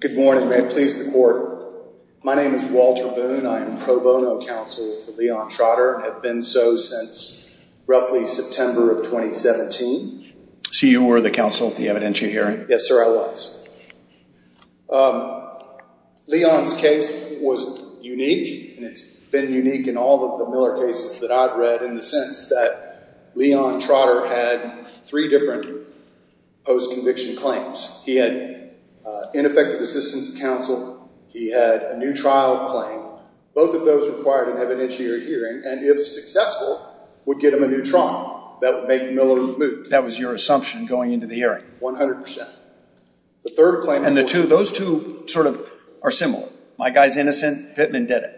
Good morning. May it please the court. My name is Walter Boone. I am pro bono counsel for Leon Trotter and have been so since roughly September of 2017. So you were the counsel at the evidentiary hearing? Yes sir, I was. Leon's case was unique and it's been unique in all of the Miller cases that I've read in the sense that Leon Trotter had three different post-conviction claims. He had ineffective assistance of counsel. He had a new trial claim. Both of those required an evidentiary hearing and if successful would get him a new trial. That would make Miller move. That was your assumption going into the hearing? 100 percent. The third claim... And the two, those two sort of are similar. My guy's innocent. Pittman did it.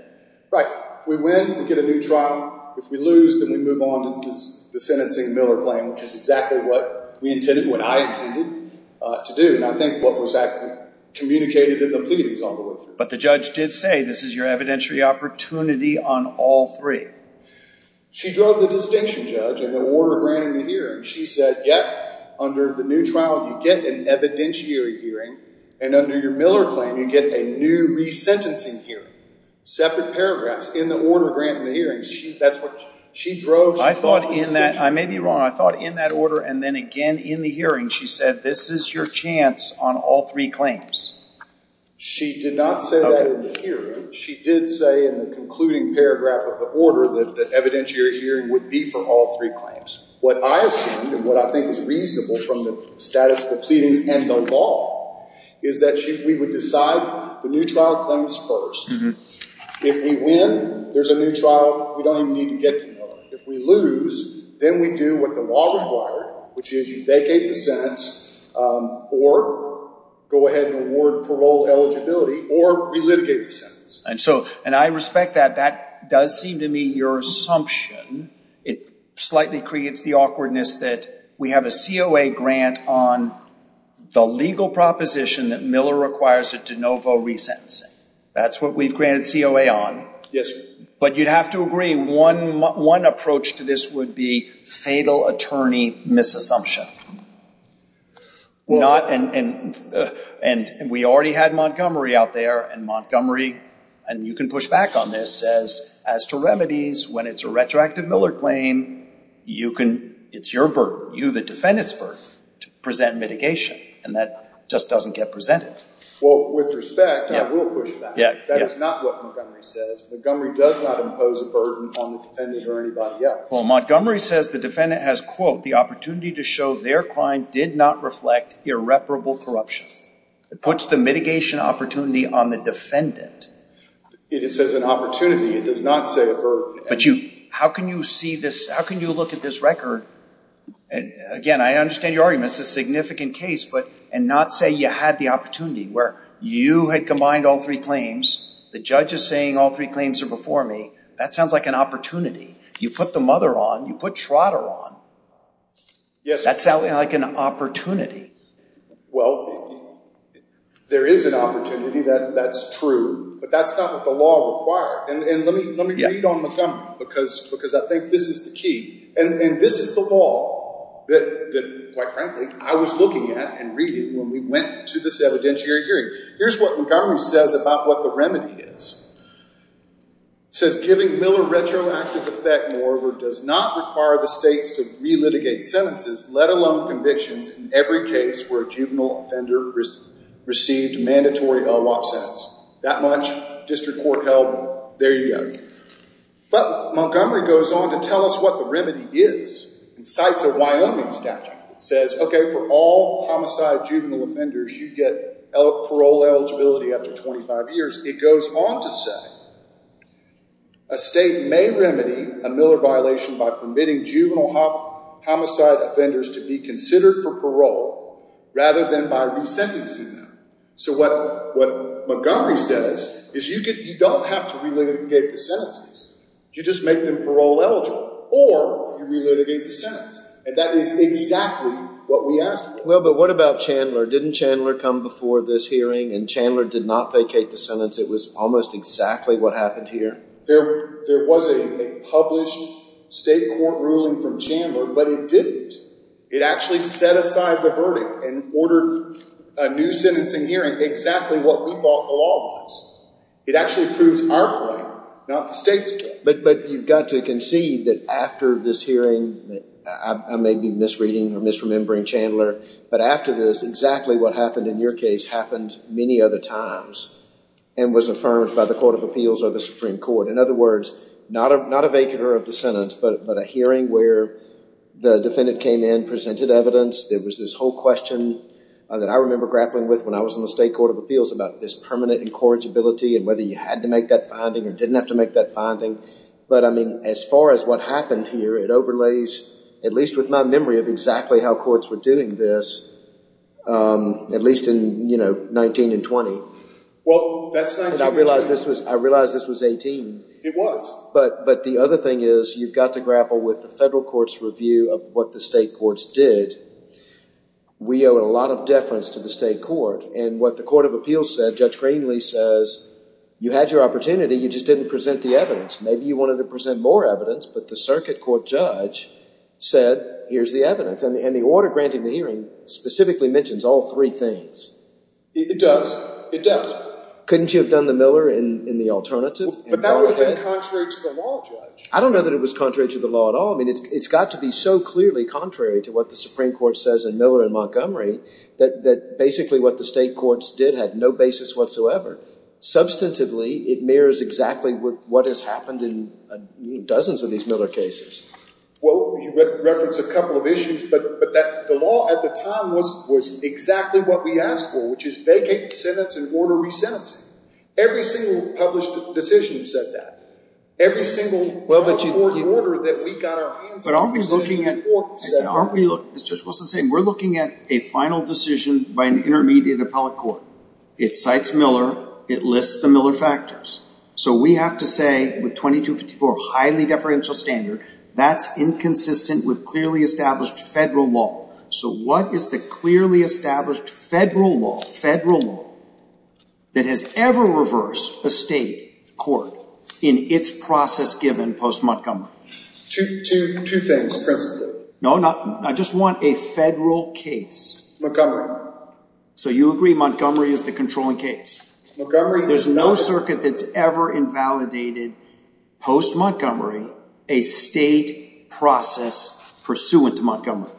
Right. We win, we get a new trial. If we lose, then we move on to the sentencing Miller claim, which is exactly what we intended, what I intended to do and I think what was actually communicated in the pleadings on the way through. But the judge did say this is your evidentiary opportunity on all three. She drove the distinction judge and the order granting the hearing. She said, under the new trial you get an evidentiary hearing and under your Miller claim you get a new resentencing hearing. Separate paragraphs in the order granting the hearing. She drove... I thought in that, I may be wrong, I thought in that order and then again in the hearing she said this is your chance on all three claims. She did not say that in the hearing. She did say in the concluding paragraph of the order that evidentiary hearing would be for all three claims. What I assumed and what I think is reasonable from the status of the pleadings and the law is that we would decide the new trial claims first. If we win, there's a new trial, we don't even need to get to Miller. If we lose, then we do what the law required, which is you vacate the sentence or go ahead and award parole eligibility or relitigate the sentence. I respect that. That does seem to me your assumption. It slightly creates the awkwardness that we have a COA grant on the legal proposition that Miller requires a de novo resentencing. That's what we've granted COA on. Yes, sir. But you'd have to agree one approach to this would be fatal attorney misassumption. We already had Montgomery out there and Montgomery, and you can push back on this, says as to remedies when it's a retroactive Miller claim, it's your burden, you the defendant's burden to present mitigation and that just doesn't get presented. Well, with respect, I will push back. That is not what Montgomery says. Montgomery does not impose a burden on the defendant or anybody else. Well, Montgomery says the defendant has, quote, opportunity to show their crime did not reflect irreparable corruption. It puts the mitigation opportunity on the defendant. It says an opportunity. It does not say a burden. But you, how can you see this? How can you look at this record? Again, I understand your argument. It's a significant case, but and not say you had the opportunity where you had combined all three claims. The judge is saying all three claims are before me. That sounds like an opportunity. You put the mother on, you put Trotter on. That sounds like an opportunity. Well, there is an opportunity that's true, but that's not what the law required. And let me read on Montgomery because I think this is the key. And this is the law that, quite frankly, I was looking at and reading when we went to this evidentiary hearing. Here's what Montgomery says about what the remedy is. It says giving Miller retroactive effect, moreover, does not require the states to relitigate sentences, let alone convictions, in every case where a juvenile offender received a mandatory LWOP sentence. That much, district court held, there you go. But Montgomery goes on to tell us what the remedy is and cites a Wyoming statute that says, OK, for all homicide juvenile offenders, you get parole eligibility after 25 years. It goes on to say a state may remedy a Miller violation by permitting juvenile homicide offenders to be considered for parole rather than by resentencing them. So what Montgomery says is you don't have to relitigate the sentences. You just make them parole eligible or you relitigate the sentence. And that is exactly what we asked. Well, but what about Chandler? Didn't Chandler come before this hearing and Chandler did not relitigate the sentence? It was almost exactly what happened here. There was a published state court ruling from Chandler, but it didn't. It actually set aside the verdict and ordered a new sentencing hearing exactly what we thought the law was. It actually proves our claim, not the state's claim. But you've got to concede that after this hearing, I may be misreading or misremembering Chandler, but after this, exactly what happened in your case happened many other times. And was affirmed by the Court of Appeals or the Supreme Court. In other words, not a vacular of the sentence, but a hearing where the defendant came in, presented evidence. There was this whole question that I remember grappling with when I was in the state Court of Appeals about this permanent incorrigibility and whether you had to make that finding or didn't have to make that finding. But I mean, as far as what happened here, it overlays, at least with my memory of exactly how courts were doing this, at least in 19 and 20. Well, I realized this was 18. It was. But the other thing is you've got to grapple with the federal court's review of what the state courts did. We owe a lot of deference to the state court and what the Court of Appeals said, Judge Greenlee says, you had your opportunity. You just didn't present the evidence. Maybe you wanted to present more evidence, but the circuit court judge said, here's the evidence. And the order granting the hearing specifically mentions all three things. It does. It does. Couldn't you have done the Miller in the alternative? But that would have been contrary to the law, Judge. I don't know that it was contrary to the law at all. I mean, it's got to be so clearly contrary to what the Supreme Court says in Miller and Montgomery that basically what the state courts did had no basis whatsoever. Substantively, it mirrors exactly what has happened in dozens of these Miller cases. Well, you referenced a couple of issues, but the law at the time was exactly what we asked for, which is vacate the sentence and order resentencing. Every single published decision said that. Every single court order that we got our hands on. But aren't we looking at, aren't we looking, as Judge Wilson said, we're looking at a final decision by an intermediate appellate court. It cites Miller. It lists the Miller factors. So we have to say with 2254, highly deferential standard, that's inconsistent with clearly established federal law. So what is the clearly established federal law, federal law that has ever reversed a state court in its process given post-Montgomery? Two things. No, not, I just want a federal case. So you agree Montgomery is the controlling case. There's no circuit that's ever invalidated post-Montgomery a state process pursuant to Montgomery. Do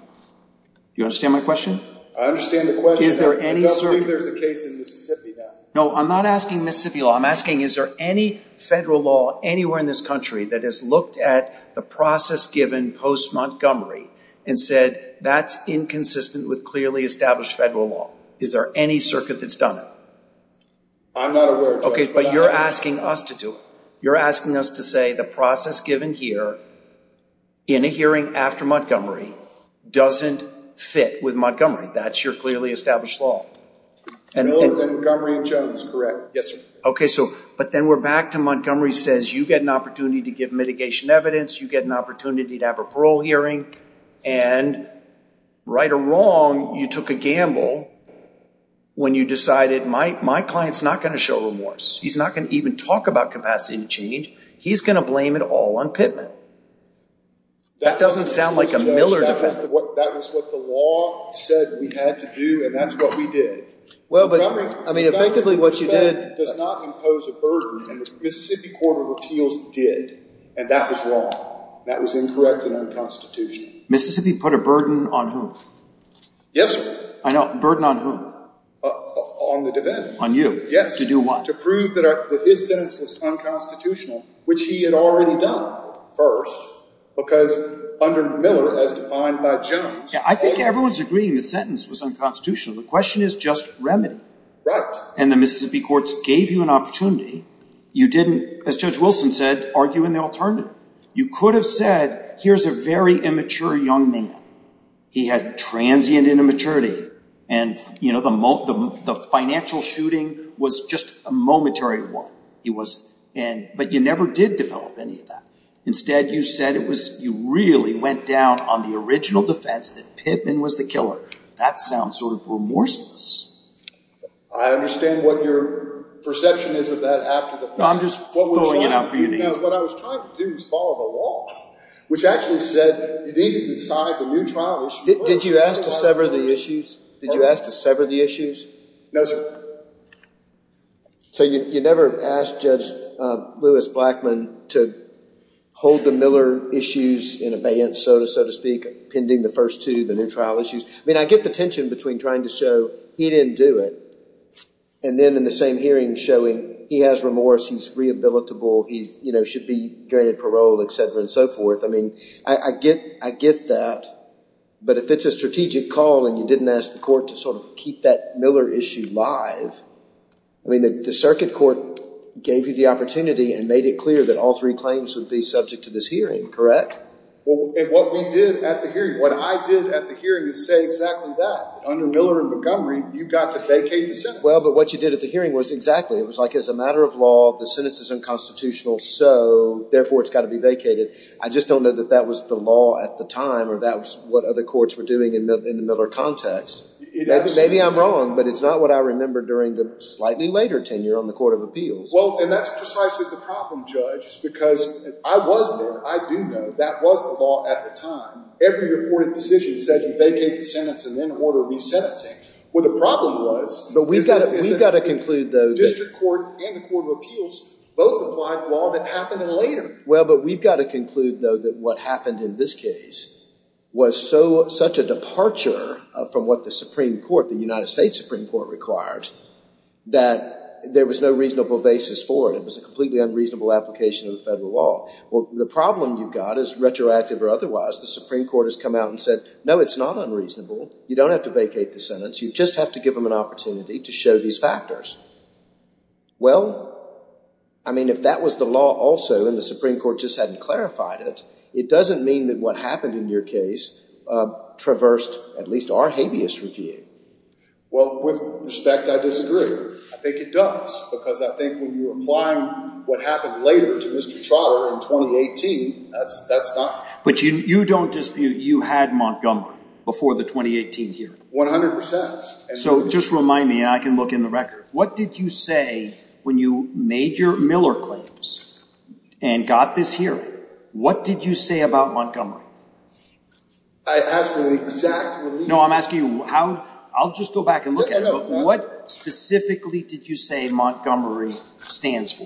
you understand my question? I understand the question. Is there any circuit? I don't believe there's a case in Mississippi now. No, I'm not asking Mississippi law. I'm asking, is there any federal law anywhere in this country that has looked at the process given post-Montgomery and said that's inconsistent with clearly established federal law? Is there any circuit that's done it? I'm not aware of that. Okay, but you're asking us to do it. You're asking us to say the process given here in a hearing after Montgomery doesn't fit with Montgomery. That's your clearly established law. Miller and Montgomery and Jones, correct. Yes, sir. Okay, so, but then we're back to Montgomery says you get an opportunity to give mitigation evidence. You get an opportunity to have a parole hearing and right or wrong, you took a gamble when you decided my client's not going to show remorse. He's not going to even talk about capacity to change. He's going to blame it all on Pittman. That doesn't sound like a Miller defendant. That was what the law said we had to do and that's what we did. Well, but I mean, effectively what you did does not impose a burden and the Mississippi Court of Appeals did and that was wrong. That was incorrect and unconstitutional. Mississippi put a burden on whom? Yes, sir. Burden on whom? On the defendant. On you. Yes. To do what? To prove that his sentence was unconstitutional, which he had already done first because under Miller as defined by Jones. I think everyone's agreeing the sentence was unconstitutional. The question is just remedy. Right. And the Mississippi courts gave you an opportunity. You didn't, as Judge Wilson said, argue in the alternative. You could have said, here's a very immature young man. He had transient immaturity and, you know, the financial shooting was just a momentary one. He was, but you never did develop any of that. Instead, you said it was, you really went down on the original defense that Pittman was the killer. That sounds sort of remorseless. I understand what your perception is of that after the fact. I'm just throwing it out for you to use. What I was trying to do was follow the law, which actually said you need to decide the new trial issue. Did you ask to sever the issues? Did you ask to sever the issues? No, sir. So you never asked Judge Lewis Blackman to hold the Miller issues in abeyance, so to speak, pending the first two, the new trial issues. I mean, I get the tension between trying to show he didn't do it. And then in the same hearing showing he has remorse, he's rehabilitable, he should be granted parole, et cetera, and so forth. I mean, I get that. But if it's a strategic call and you didn't ask the court to sort of keep that Miller issue live, I mean, the circuit court gave you the opportunity and made it clear that all three claims would be subject to this hearing, correct? Well, and what we did at the hearing, what I did at the hearing is say exactly that. Under Miller and Montgomery, you got to vacate the sentence. Well, but what you did at the hearing was exactly. It was like, as a matter of law, the sentence is unconstitutional, so therefore it's got to be vacated. I just don't know that that was the law at the time, or that was what other courts were doing in the Miller context. Maybe I'm wrong, but it's not what I remember during the slightly later tenure on the Court of Appeals. Well, and that's precisely the problem, Judge, is because I was there. I do know that was the law at the time. Every reported decision said you vacate the sentence and then order re-sentencing. Well, the problem was- But we've got to conclude, though- Well, but we've got to conclude, though, that what happened in this case was such a departure from what the Supreme Court, the United States Supreme Court, required that there was no reasonable basis for it. It was a completely unreasonable application of the federal law. Well, the problem you've got, as retroactive or otherwise, the Supreme Court has come out and said, no, it's not unreasonable. You don't have to vacate the sentence. You just have to give them an opportunity to show these factors. Well, I mean, if that was the law also and the Supreme Court just hadn't clarified it, it doesn't mean that what happened in your case traversed at least our habeas review. Well, with respect, I disagree. I think it does because I think when you're applying what happened later to Mr. Trotter in 2018, that's not- But you don't dispute you had Montgomery before the 2018 hearing? One hundred percent. So just remind me, and I can look in the record. What did you say when you made your Miller claims and got this hearing? What did you say about Montgomery? I asked for the exact- No, I'm asking you how- I'll just go back and look at it. No, no, no. What specifically did you say Montgomery stands for?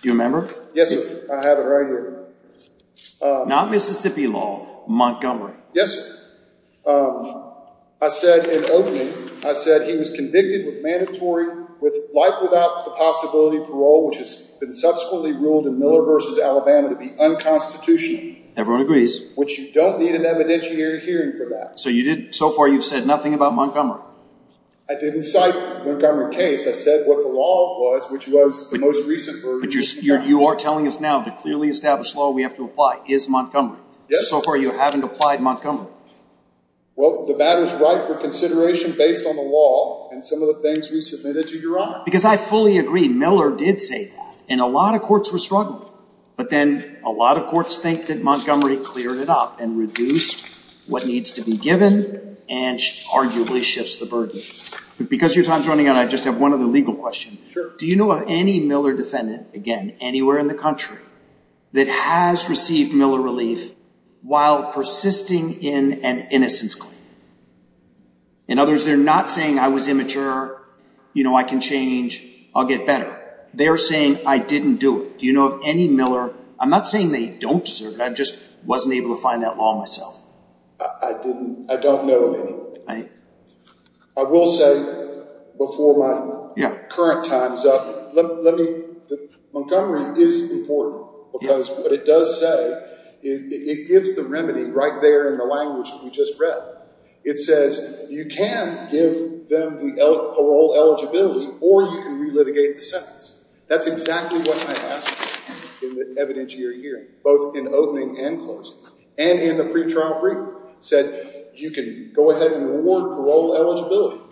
Do you remember? Yes, sir. I have it right here. Not Mississippi law, Montgomery. Yes, sir. I said in opening, I said he was convicted with mandatory- with life without the possibility of parole, which has been subsequently ruled in Miller versus Alabama to be unconstitutional. Everyone agrees. Which you don't need an evidentiary hearing for that. So you did- so far, you've said nothing about Montgomery? I didn't cite Montgomery case. I said what the law was, which was the most recent version. You are telling us now the clearly established law we have to apply is Montgomery. So far, you haven't applied Montgomery. Well, the matter's right for consideration based on the law and some of the things we submitted to your Honor. Because I fully agree. Miller did say that. And a lot of courts were struggling. But then a lot of courts think that Montgomery cleared it up and reduced what needs to be given and arguably shifts the burden. Because your time's running out, I just have one other legal question. Sure. Do you know of any Miller defendant, again, anywhere in the country that has received Miller relief while persisting in an innocence claim? In other words, they're not saying, I was immature. You know, I can change. I'll get better. They're saying, I didn't do it. Do you know of any Miller- I'm not saying they don't deserve it. I just wasn't able to find that law myself. I didn't- I don't know of any. I will say before my current time's up, let me- Because what it does say, it gives the remedy right there in the language we just read. It says you can give them the parole eligibility or you can relitigate the sentence. That's exactly what I asked in the evidentiary hearing, both in opening and closing. And in the pretrial briefing, said you can go ahead and reward parole eligibility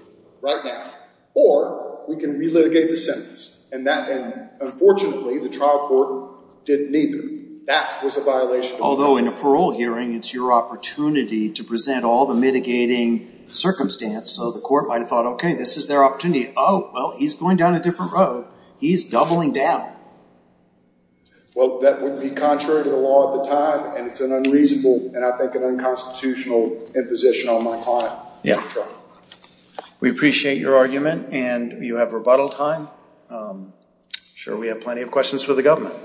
right now. Or we can relitigate the sentence. And that- and unfortunately, the trial court did neither. That was a violation. Although in a parole hearing, it's your opportunity to present all the mitigating circumstance. So the court might have thought, okay, this is their opportunity. Oh, well, he's going down a different road. He's doubling down. Well, that would be contrary to the law at the time. And it's an unreasonable and I think an unconstitutional imposition on my client. Yeah, we appreciate your argument. And you have rebuttal time. Sure, we have plenty of questions for the government.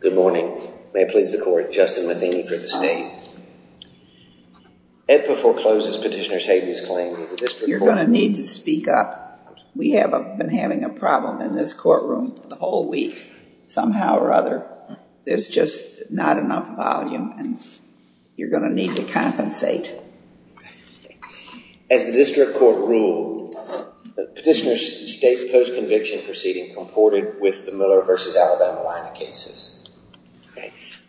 Good morning. May I please the court. Justin Matheny for the state. It forecloses petitioner's claims- You're going to need to speak up. We have been having a problem in this courtroom the whole week somehow or other. There's just not enough volume and you're going to need to compensate. As the district court ruled, petitioner's state post-conviction proceeding comported with the Miller versus Alabama line of cases.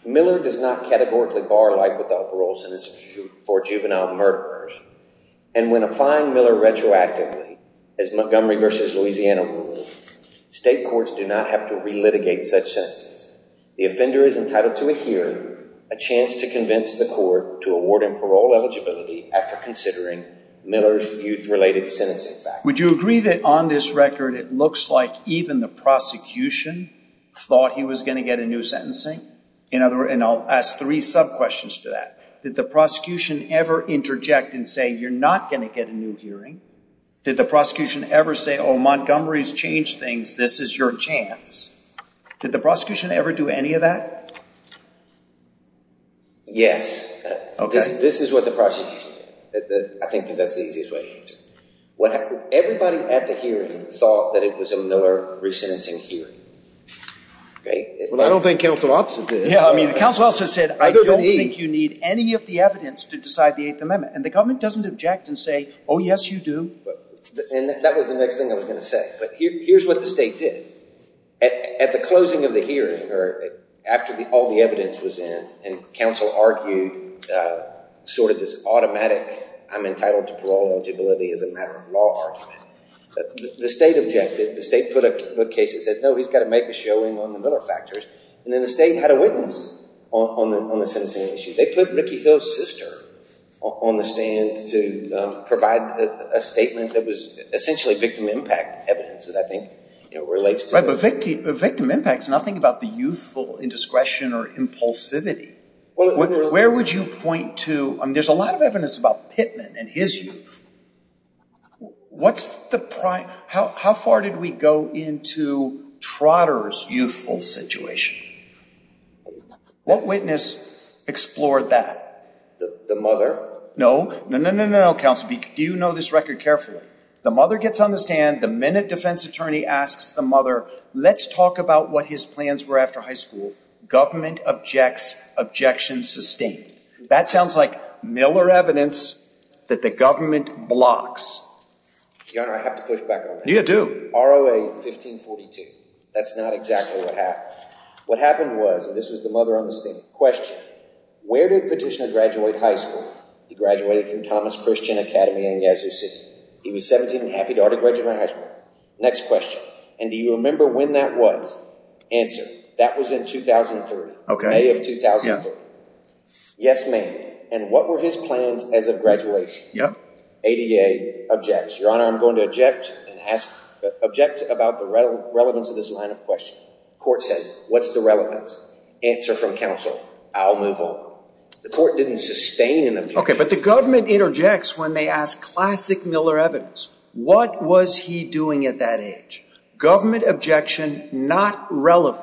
Miller does not categorically bar life without parole sentences for juvenile murderers. And when applying Miller retroactively, as Montgomery versus Louisiana ruled, state courts do not have to relitigate such sentences. The offender is entitled to a hearing, a chance to convince the court to award him parole eligibility after considering Miller's youth-related sentencing factors. Would you agree that on this record, it looks like even the prosecution thought he was going to get a new sentencing? And I'll ask three sub-questions to that. Did the prosecution ever interject and say, you're not going to get a new hearing? Did the prosecution ever say, oh, Montgomery's changed things. This is your chance. Did the prosecution ever do any of that? Yes. This is what the prosecution did. I think that's the easiest way to answer. Everybody at the hearing thought that it was a Miller re-sentencing hearing. I don't think counsel also did. Yeah, I mean, counsel also said, I don't think you need any of the evidence to decide the Eighth Amendment. And the government doesn't object and say, oh, yes, you do. And that was the next thing I was going to say. But here's what the state did. At the closing of the hearing, or after all the evidence was in, and counsel argued sort of this automatic, I'm entitled to parole eligibility as a matter of law argument, the state objected. The state put up cases and said, no, he's got to make a showing on the Miller factors. And then the state had a witness on the sentencing issue. They put Ricky Hill's sister on the stand to provide a statement that was essentially victim impact evidence that I think it relates to. Right, but victim impact is nothing about the youthful indiscretion or impulsivity. Where would you point to? I mean, there's a lot of evidence about Pittman and his youth. How far did we go into Trotter's youthful situation? What witness explored that? The mother? No, no, no, no, no, counsel. Do you know this record carefully? The mother gets on the stand the minute defense attorney asks the mother, let's talk about what his plans were after high school. Government objects, objection sustained. That sounds like Miller evidence that the government blocks. Your Honor, I have to push back on that. You do. ROA 1542. That's not exactly what happened. What happened was, and this was the mother on the stand, question, where did Petitioner graduate high school? He graduated from Thomas Christian Academy in Yazoo City. He was 17 and a half. He'd already graduated high school. Next question. And do you remember when that was? Answer. That was in 2003, May of 2003. Yes, ma'am. And what were his plans as of graduation? ADA objects. Your Honor, I'm going to object about the relevance of this line of question. Court says, what's the relevance? Answer from counsel. I'll move on. The court didn't sustain an objection. But the government interjects when they ask classic Miller evidence. What was he doing at that age? Government objection, not relevant.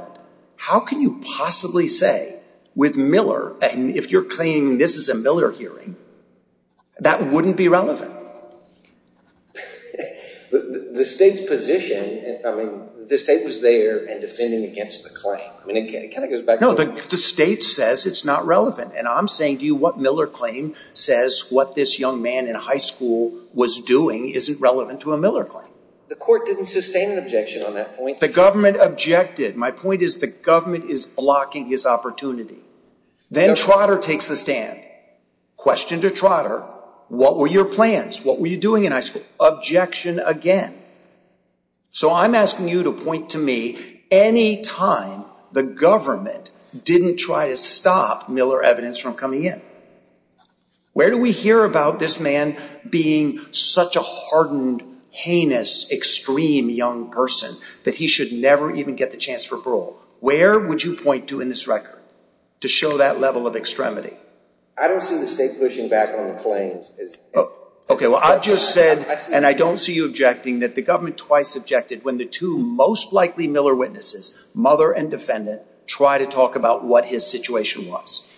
How can you possibly say, with Miller, and if you're claiming this is a Miller hearing, that wouldn't be relevant? The state's position, I mean, the state was there and defending against the claim. I mean, it kind of goes back. No, the state says it's not relevant. And I'm saying to you what Miller claim says what this young man in high school was doing isn't relevant to a Miller claim. The court didn't sustain an objection on that point. The government objected. My point is the government is blocking his opportunity. Then Trotter takes the stand. Question to Trotter, what were your plans? What were you doing in high school? Objection again. So I'm asking you to point to me any time the government didn't try to stop Miller evidence from coming in. Where do we hear about this man being such a hardened, heinous, extreme young person that he should never even get the chance for parole? Where would you point to in this record to show that level of extremity? I don't see the state pushing back on the claims. OK, well, I just said, and I don't see you objecting, that the government twice objected when the two most likely Miller witnesses, mother and defendant, try to talk about what his situation was.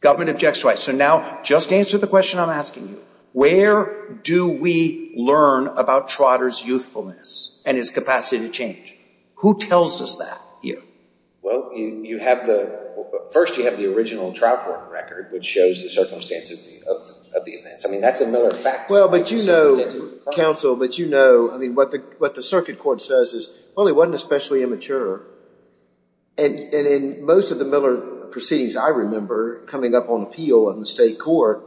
Government objects twice. So now just answer the question I'm asking you. Where do we learn about Trotter's youthfulness and his capacity to change? Who tells us that here? Well, first you have the original Trout Court record, which shows the circumstances of the events. I mean, that's a Miller fact. Well, but you know, counsel, but you know, I mean, what the circuit court says is, well, he wasn't especially immature. And in most of the Miller proceedings I remember coming up on appeal in the state court,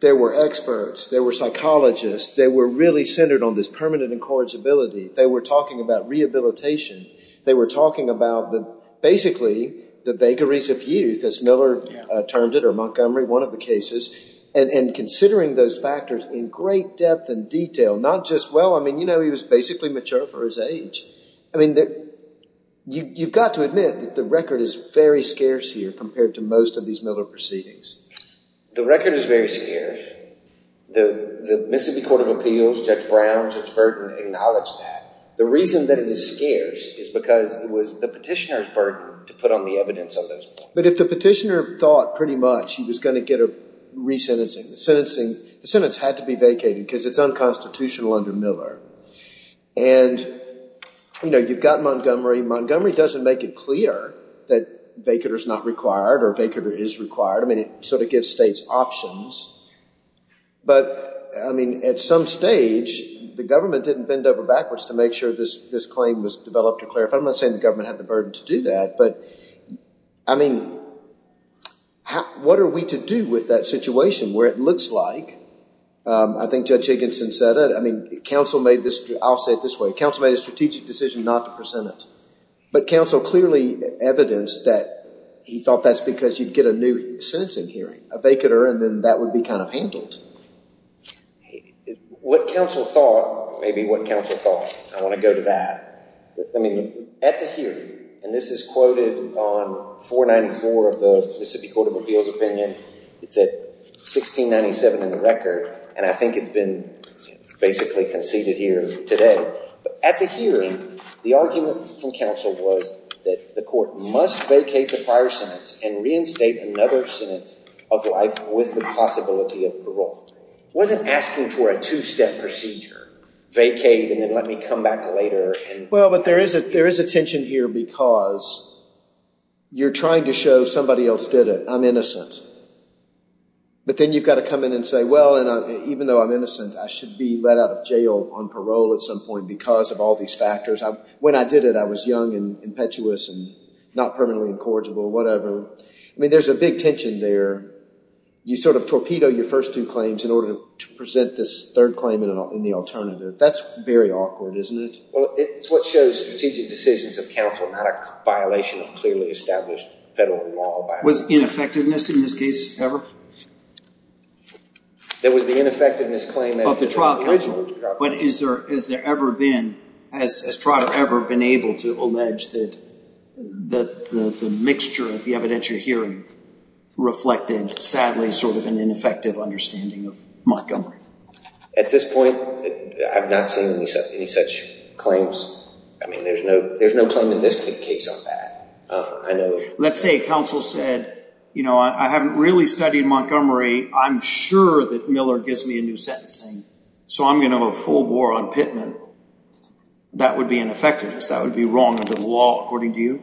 there were experts. There were psychologists. They were really centered on this permanent incorrigibility. They were talking about rehabilitation. They were talking about basically the vagaries of youth, as Miller termed it, or Montgomery, one of the cases, and considering those factors in great depth and detail. Not just, well, I mean, you know, he was basically mature for his age. I mean, you've got to admit that the record is very scarce here compared to most of these Miller proceedings. The record is very scarce. The Mississippi Court of Appeals, Judge Brown, Judge Burton acknowledged that. The reason that it is scarce is because it was the petitioner's burden to put on the evidence on those points. But if the petitioner thought pretty much he was going to get a re-sentencing, the sentence had to be vacated because it's unconstitutional under Miller. And, you know, you've got Montgomery. Montgomery doesn't make it clear that vacater is not required or vacater is required. I mean, it sort of gives states options. But, I mean, at some stage, the government didn't bend over backwards to make sure this claim was developed to clarify. I'm not saying the government had the burden to do that. But, I mean, what are we to do with that situation where it looks like, I think Judge Higginson said it. Counsel made this, I'll say it this way. Counsel made a strategic decision not to present it. But counsel clearly evidenced that he thought that's because you'd get a new sentencing hearing, a vacater, and then that would be kind of handled. What counsel thought, maybe what counsel thought, I want to go to that. I mean, at the hearing, and this is quoted on 494 of the Mississippi Court of Appeals opinion. It's at 1697 in the record. And I think it's been basically conceded here today. At the hearing, the argument from counsel was that the court must vacate the prior sentence and reinstate another sentence of life with the possibility of parole. Wasn't asking for a two-step procedure, vacate and then let me come back later. Well, but there is a tension here because you're trying to show somebody else did it. I'm innocent. But then you've got to come in and say, well, and even though I'm innocent, I should be let out of jail on parole at some point because of all these factors. When I did it, I was young and impetuous and not permanently incorrigible, whatever. I mean, there's a big tension there. You sort of torpedo your first two claims in order to present this third claim in the alternative. That's very awkward, isn't it? Well, it's what shows strategic decisions of counsel, not a violation of clearly established federal law. Was ineffectiveness in this case ever? There was the ineffectiveness claim of the trial counsel. But has there ever been, has trial ever been able to allege that the mixture of the evidentiary hearing reflected, sadly, sort of an ineffective understanding of Montgomery? At this point, I've not seen any such claims. I mean, there's no claim in this case on that. I know. Let's say counsel said, you know, I haven't really studied Montgomery. I'm sure that Miller gives me a new sentencing. So I'm going to have a full bore on Pittman. That would be ineffectiveness. That would be wrong under the law, according to you?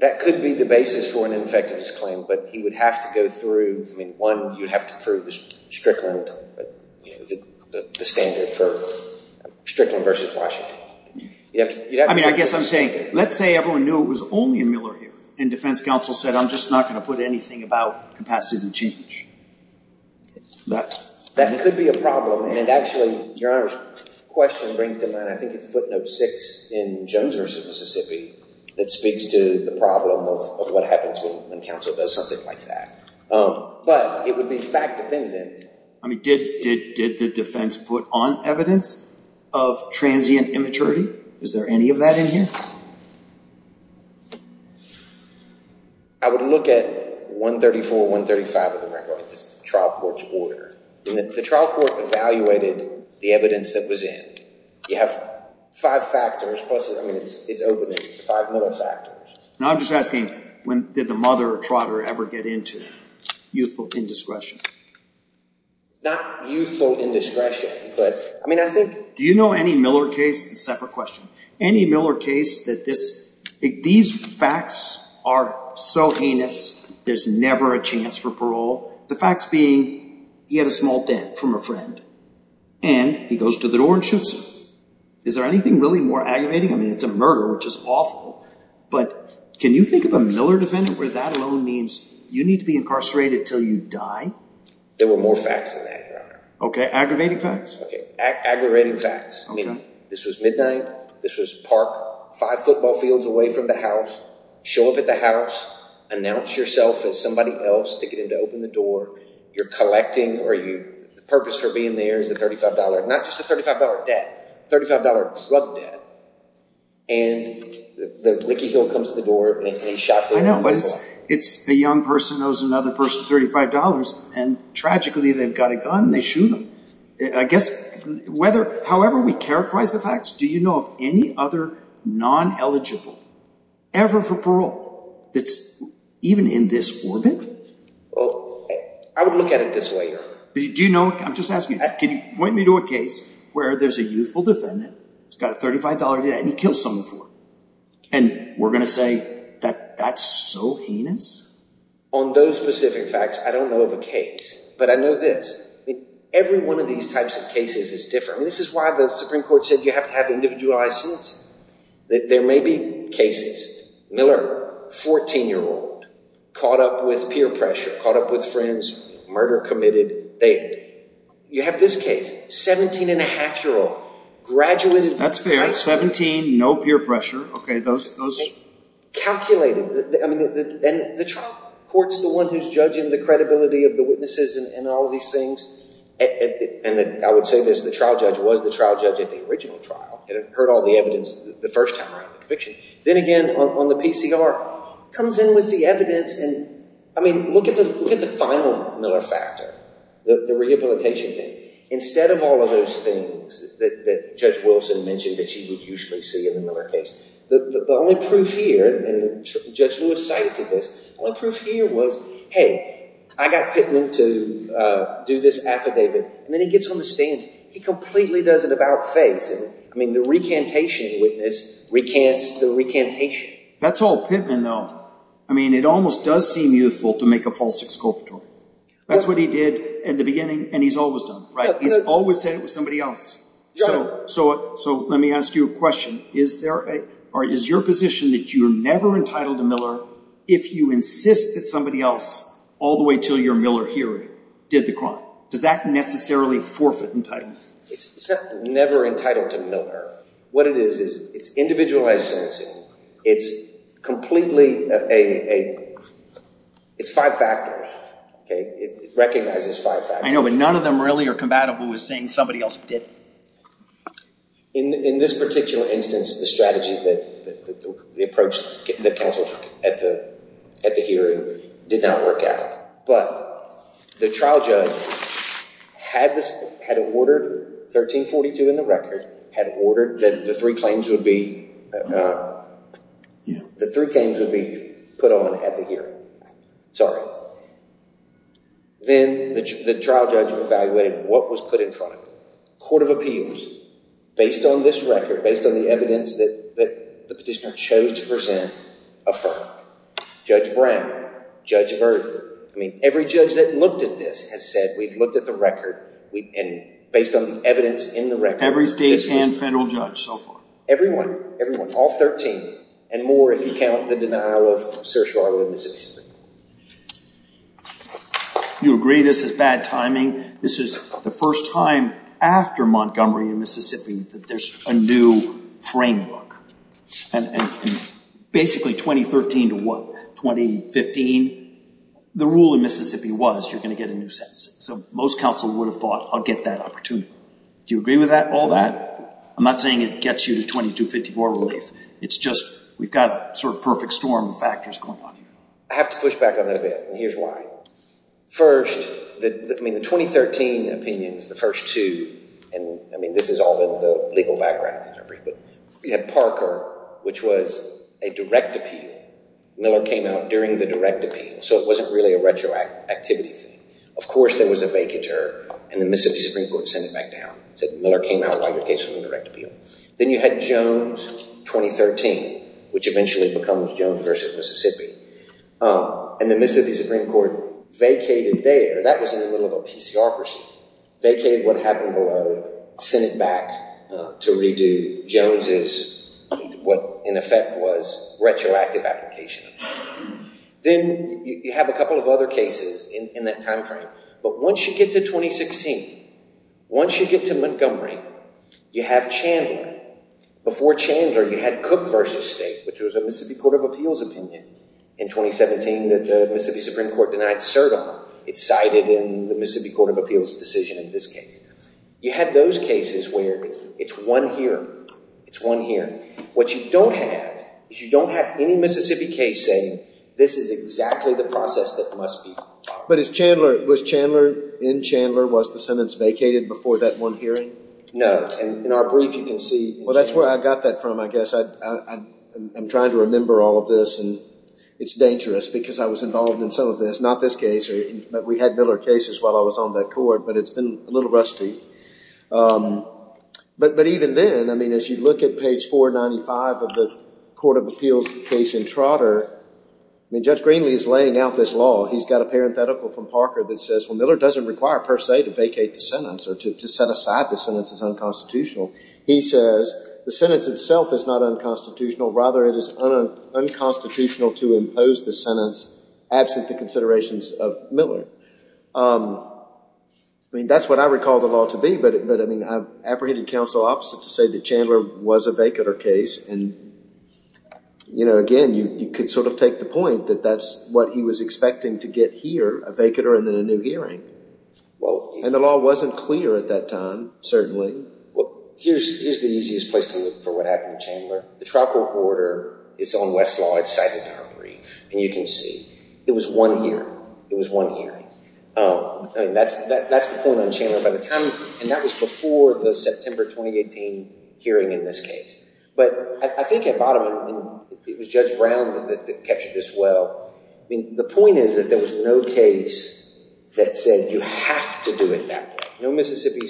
That could be the basis for an ineffectiveness claim. But he would have to go through, I mean, one, you'd have to prove this Strickland, the standard for Strickland versus Washington. I mean, I guess I'm saying, let's say everyone knew it was only in Miller here, and defense counsel said, I'm just not going to put anything about capacity to change. That could be a problem. And actually, your Honor's question brings to mind, I think it's footnote six in Jones versus Mississippi that speaks to the problem of what happens when counsel does something like that. But it would be fact-dependent. I mean, did the defense put on evidence of transient immaturity? Is there any of that in here? I would look at 134, 135 of the record. It's the trial court's order. And the trial court evaluated the evidence that was in. You have five factors plus, I mean, it's open to five other factors. Now, I'm just asking, when did the mother or trotter ever get into youthful indiscretion? Not youthful indiscretion, but I mean, I think... Do you know any Miller case? This is a separate question. Any Miller case that these facts are so heinous, there's never a chance for parole? The facts being, he had a small dent from a friend. And he goes to the door and shoots her. Is there anything really more aggravating? I mean, it's a murder, which is awful. But can you think of a Miller defendant where that alone means you need to be incarcerated until you die? There were more facts than that, Your Honor. Okay. Aggravating facts? Okay. Aggravating facts. I mean, this was midnight. This was park, five football fields away from the house. Show up at the house. Announce yourself as somebody else to get him to open the door. You're collecting, or you... The purpose for being there is the $35, not just a $35 debt, $35 drug debt. And the Ricky Hill comes to the door and shot her. It's a young person knows another person, $35, and tragically, they've got a gun and they shoot them. I guess, however we characterize the facts, do you know of any other non-eligible ever for parole that's even in this orbit? Well, I would look at it this way. I'm just asking, can you point me to a case where there's a youthful defendant who's got a $35 debt and he kills someone for it? And we're going to say that that's so heinous? On those specific facts, I don't know of a case, but I know this. Every one of these types of cases is different. This is why the Supreme Court said you have to have individualized suits. There may be cases, Miller, 14 year old, caught up with peer pressure, caught up with friends, murder committed. You have this case, 17 and a half year old, graduated... That's fair. 17, no peer pressure. Okay, those... Calculated. And the trial court's the one who's judging the credibility of the witnesses and all of these things. And I would say this, the trial judge was the trial judge at the original trial and heard all the evidence the first time around the conviction. Then again, on the PCR, comes in with the evidence and, I mean, look at the final Miller factor, the rehabilitation thing. Instead of all of those things that Judge Wilson mentioned that you would usually see in a Miller case, the only proof here, and Judge Lewis cited to this, the only proof here was, hey, I got Pittman to do this affidavit. And then he gets on the stand, he completely does it about face. I mean, the recantation witness recants the recantation. That's all Pittman though. I mean, it almost does seem youthful to make a false exculpatory. That's what he did at the beginning and he's always done, right? He's always said it was somebody else. So let me ask you a question. Is your position that you're never entitled to Miller if you insist that somebody else all the way till your Miller hearing did the crime? Does that necessarily forfeit entitlement? It's never entitled to Miller. What it is, is it's individualized sentencing. It's completely, it's five factors. It recognizes five factors. I know, but none of them really are compatible with saying somebody else did it. And in this particular instance, the strategy, the approach that counsel took at the hearing did not work out. But the trial judge had ordered 1342 in the record, had ordered that the three claims would be put on at the hearing. Sorry. Then the trial judge evaluated what was put in front of it. Court of Appeals, based on this record, based on the evidence that the petitioner chose to present, affirmed. Judge Brown, Judge Verden. I mean, every judge that looked at this has said, we've looked at the record and based on the evidence in the record. Every state and federal judge so far? Everyone. Everyone. All 13. And more if you count the denial of Sir Charles in Mississippi. You agree this is bad timing. This is the first time after Montgomery in Mississippi that there's a new framework. And basically 2013 to what, 2015, the rule in Mississippi was you're going to get a new sentence. So most counsel would have thought, I'll get that opportunity. Do you agree with that, all that? I'm not saying it gets you to 2254 relief. It's just we've got a sort of perfect storm of factors going on here. I have to push back on that a bit, and here's why. First, I mean, the 2013 opinions, the first two, and I mean, this is all in the legal background, but you had Parker, which was a direct appeal. Miller came out during the direct appeal. So it wasn't really a retroactivity thing. Of course, there was a vacatur, and the Mississippi Supreme Court sent it back down, said Miller came out while your case was a direct appeal. Then you had Jones, 2013, which eventually becomes Jones versus Mississippi. And the Mississippi Supreme Court vacated there. That was in the middle of a PCocracy, vacated what happened below, sent it back to redo Jones' what, in effect, was retroactive application. Then you have a couple of other cases in that time frame, but once you get to 2016, once you get to Montgomery, you have Chandler. Before Chandler, you had Cook versus State, which was a Mississippi Court of Appeals opinion in 2017 that the Mississippi Supreme Court denied cert on. It's cited in the Mississippi Court of Appeals decision in this case. You had those cases where it's one hearing. What you don't have is you don't have any Mississippi case saying this is exactly the process that must be followed. But was Chandler, in Chandler, was the sentence vacated before that one hearing? No. In our brief, you can see. Well, that's where I got that from, I guess. I'm trying to remember all of this, and it's dangerous because I was involved in some of this. Not this case. We had Miller cases while I was on that court, but it's been a little rusty. But even then, as you look at page 495 of the Court of Appeals case in Trotter, Judge Greenlee is laying out this law. He's got a parenthetical from Parker that says, well, Miller doesn't require, per se, to vacate the sentence or to set aside the sentence as unconstitutional. He says, the sentence itself is not unconstitutional. Rather, it is unconstitutional to impose the sentence absent the considerations of I mean, that's what I recall the law to be, but I mean, I've apprehended counsel opposite to say that Chandler was a vacater case. And, you know, again, you could sort of take the point that that's what he was expecting to get here, a vacater and then a new hearing. Well, and the law wasn't clear at that time, certainly. Well, here's the easiest place to look for what happened to Chandler. The trial court order is on Westlaw. It's cited in our brief, and you can see it was one hearing. It was one hearing. I mean, that's the point on Chandler by the time, and that was before the September 2018 hearing in this case. But I think at bottom, it was Judge Brown that captured this well. I mean, the point is that there was no case that said you have to do it that way. No Mississippi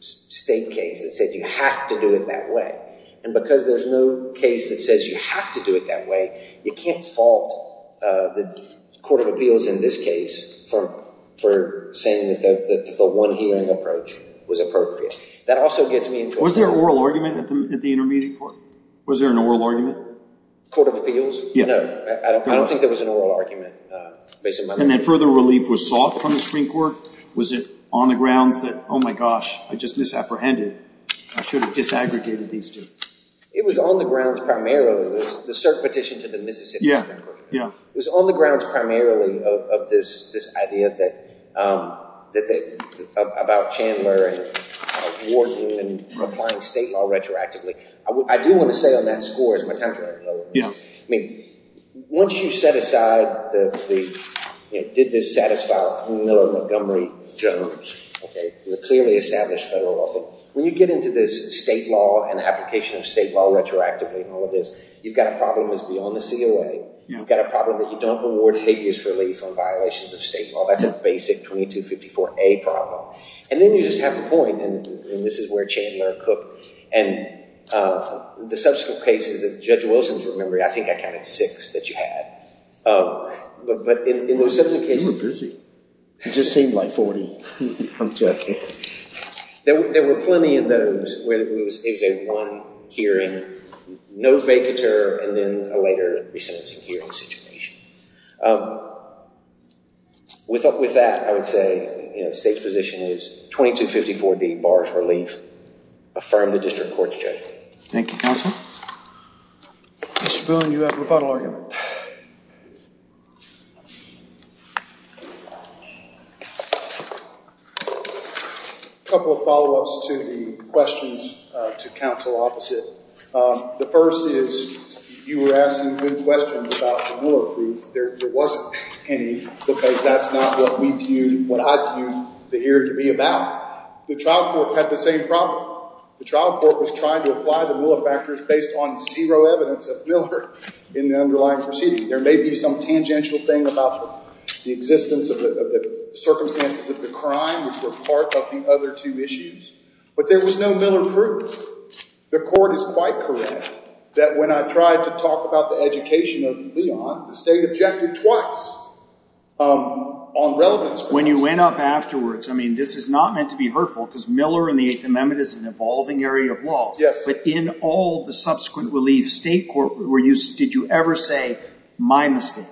State case that said you have to do it that way. And because there's no case that says you have to do it that way, you can't fault the Court of Appeals in this case for saying that the one hearing approach was appropriate. That also gets me into- Was there an oral argument at the intermediate court? Was there an oral argument? Court of Appeals? Yeah. I don't think there was an oral argument. And then further relief was sought from the Supreme Court? Was it on the grounds that, oh my gosh, I just misapprehended. I should have disaggregated these two. It was on the grounds primarily, the cert petition to the Mississippi Supreme Court. It was on the grounds primarily of this idea about Chandler and Warden and applying state law retroactively. I do want to say on that score, as my time's running low, I mean, once you set aside the, you know, did this satisfy Montgomery- Okay. The clearly established federal law thing. When you get into this state law and application of state law retroactively and all of this, you've got a problem that's beyond the COA. You've got a problem that you don't award habeas relief on violations of state law. That's a basic 2254A problem. And then you just have the point, and this is where Chandler and Cook and the subsequent cases that Judge Wilson's remembering. I think I counted six that you had. But in those subsequent cases- You were busy. It just seemed like 40. I'm joking. There were plenty of those where it was a one hearing, no vacatur, and then a later resentencing hearing situation. With that, I would say, you know, the state's position is 2254B, bars relief. Affirm the district court's judgment. Thank you, counsel. Mr. Boone, you have a rebuttal argument. A couple of follow-ups to the questions to counsel opposite. The first is, you were asking good questions about the Mueller brief. There wasn't any, because that's not what we viewed, what I viewed the hearing to be about. The trial court had the same problem. The trial court was trying to apply the Mueller factors based on zero evidence of Mueller in the underlying proceeding. There may be some tangential thing about the existence of the circumstances of the crime, which were part of the other two issues. But there was no Mueller proof. The court is quite correct that when I tried to talk about the education of Leon, the state objected twice on relevance. When you went up afterwards, I mean, this is not meant to be hurtful, because Mueller and the Eighth Amendment is an evolving area of law. But in all the subsequent reliefs, state court, did you ever say, my mistake?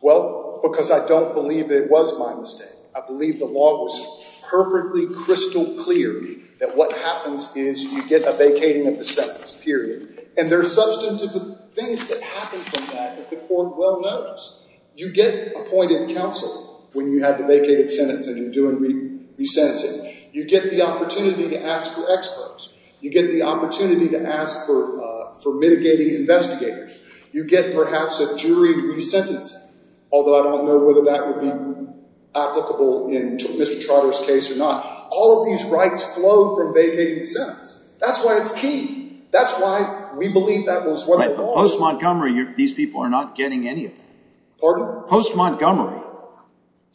Well, because I don't believe it was my mistake. I believe the law was perfectly crystal clear that what happens is you get a vacating of the sentence, period. And there are substantive things that happen from that, as the court well knows. You get appointed counsel when you have a vacated sentence and you're doing resentencing. You get the opportunity to ask for experts. You get the opportunity to ask for mitigating investigators. You get, perhaps, a jury to re-sentence him, although I don't know whether that would be applicable in Mr. Trotter's case or not. All of these rights flow from vacating the sentence. That's why it's key. That's why we believe that was what it was. But post-Montgomery, these people are not getting any of that. Pardon? Post-Montgomery,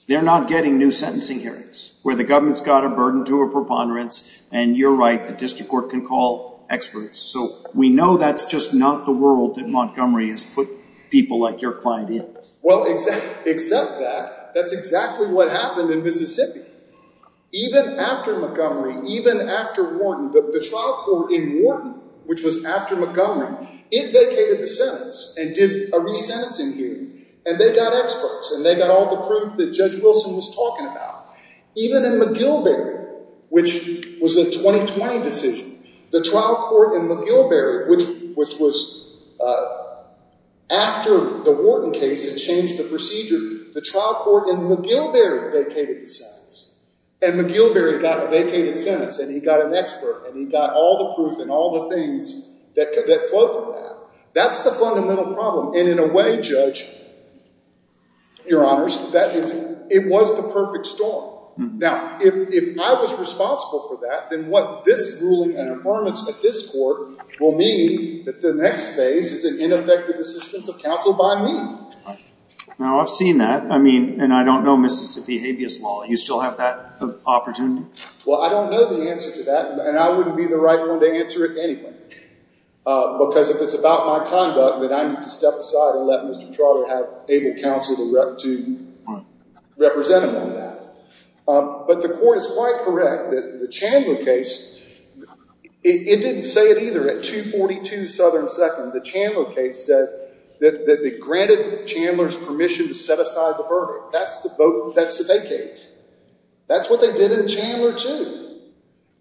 they're not getting new sentencing hearings, where the government's got a burden to a preponderance, and you're right, the district court can call experts. So we know that's just not the world that Montgomery has put people like your client in. Well, except that, that's exactly what happened in Mississippi. Even after Montgomery, even after Wharton, the trial court in Wharton, which was after Montgomery, it vacated the sentence and did a resentencing hearing. And they got experts. And they got all the proof that Judge Wilson was talking about. Even in McGilvary, which was a 2020 decision, the trial court in McGilvary, which was after the Wharton case and changed the procedure, the trial court in McGilvary vacated the sentence. And McGilvary got a vacated sentence. And he got an expert. And he got all the proof and all the things that flow from that. That's the fundamental problem. And in a way, Judge, your honors, it was the perfect storm. Now, if I was responsible for that, then what this ruling and affirmance at this court will mean that the next phase is an ineffective assistance of counsel by me. Now, I've seen that. I mean, and I don't know Mississippi habeas law. You still have that opportunity? Well, I don't know the answer to that. And I wouldn't be the right one to answer it anyway. Because if it's about my conduct, then I need to step aside and let Mr. Trotter have able counsel to represent him on that. But the court is quite correct that the Chandler case, it didn't say it either. At 242 Southern 2nd, the Chandler case said that they granted Chandler's permission to set aside the verdict. That's the vacate. That's what they did in Chandler too.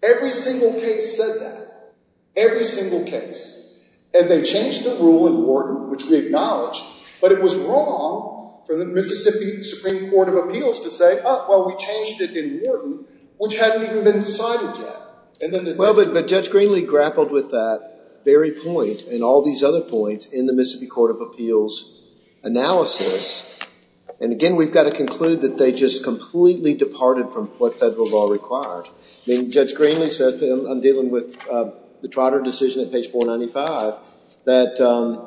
Every single case said that. Every single case. And they changed the rule in Wharton, which we acknowledge, but it was wrong for the Mississippi Supreme Court of Appeals to say, oh, well, we changed it in Wharton, which hadn't even been decided yet. Well, but Judge Greenlee grappled with that very point and all these other points in the Mississippi Court of Appeals analysis. And again, we've got to conclude that they just completely departed from what federal law required. Judge Greenlee said, I'm dealing with the Trotter decision at page 495, that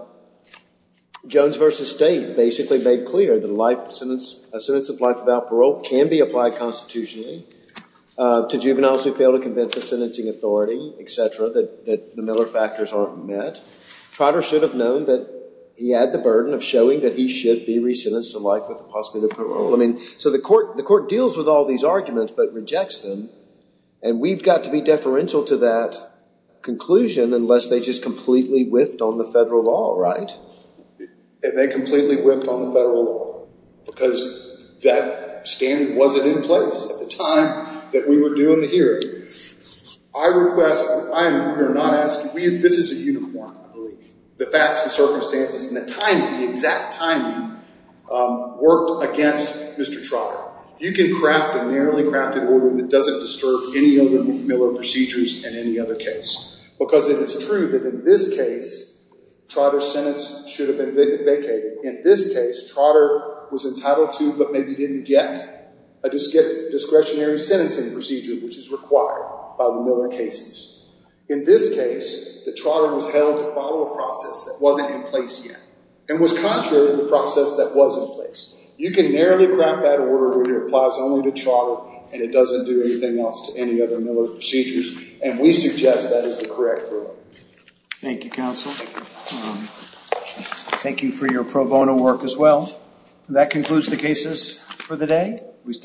Jones versus State basically made clear that a sentence of life without parole can be applied constitutionally to juveniles who fail to convince the sentencing authority, et cetera, that the Miller factors aren't met. Trotter should have known that he had the burden of showing that he should be re-sentenced to life with the possibility of parole. So the court deals with all these arguments, but rejects them. And we've got to be deferential to that conclusion unless they just completely whiffed on the federal law, right? And they completely whiffed on the federal law because that standard wasn't in place at the time that we were doing the hearing. I request, I am here not asking, this is a uniform, I believe. The facts, the circumstances, and the timing, the exact timing worked against Mr. Trotter. You can craft a narrowly crafted order that doesn't disturb any of the Miller procedures in any other case. Because it is true that in this case, Trotter's sentence should have been vacated. In this case, Trotter was entitled to but maybe didn't get a discretionary sentencing procedure, which is required by the Miller cases. In this case, the Trotter was held to follow a process that wasn't in place yet, and was contrary to the process that was in place. You can narrowly craft that order that applies only to Trotter, and it doesn't do anything else to any other Miller procedures. And we suggest that is the correct order. Thank you, counsel. Thank you for your pro bono work as well. That concludes the cases for the day.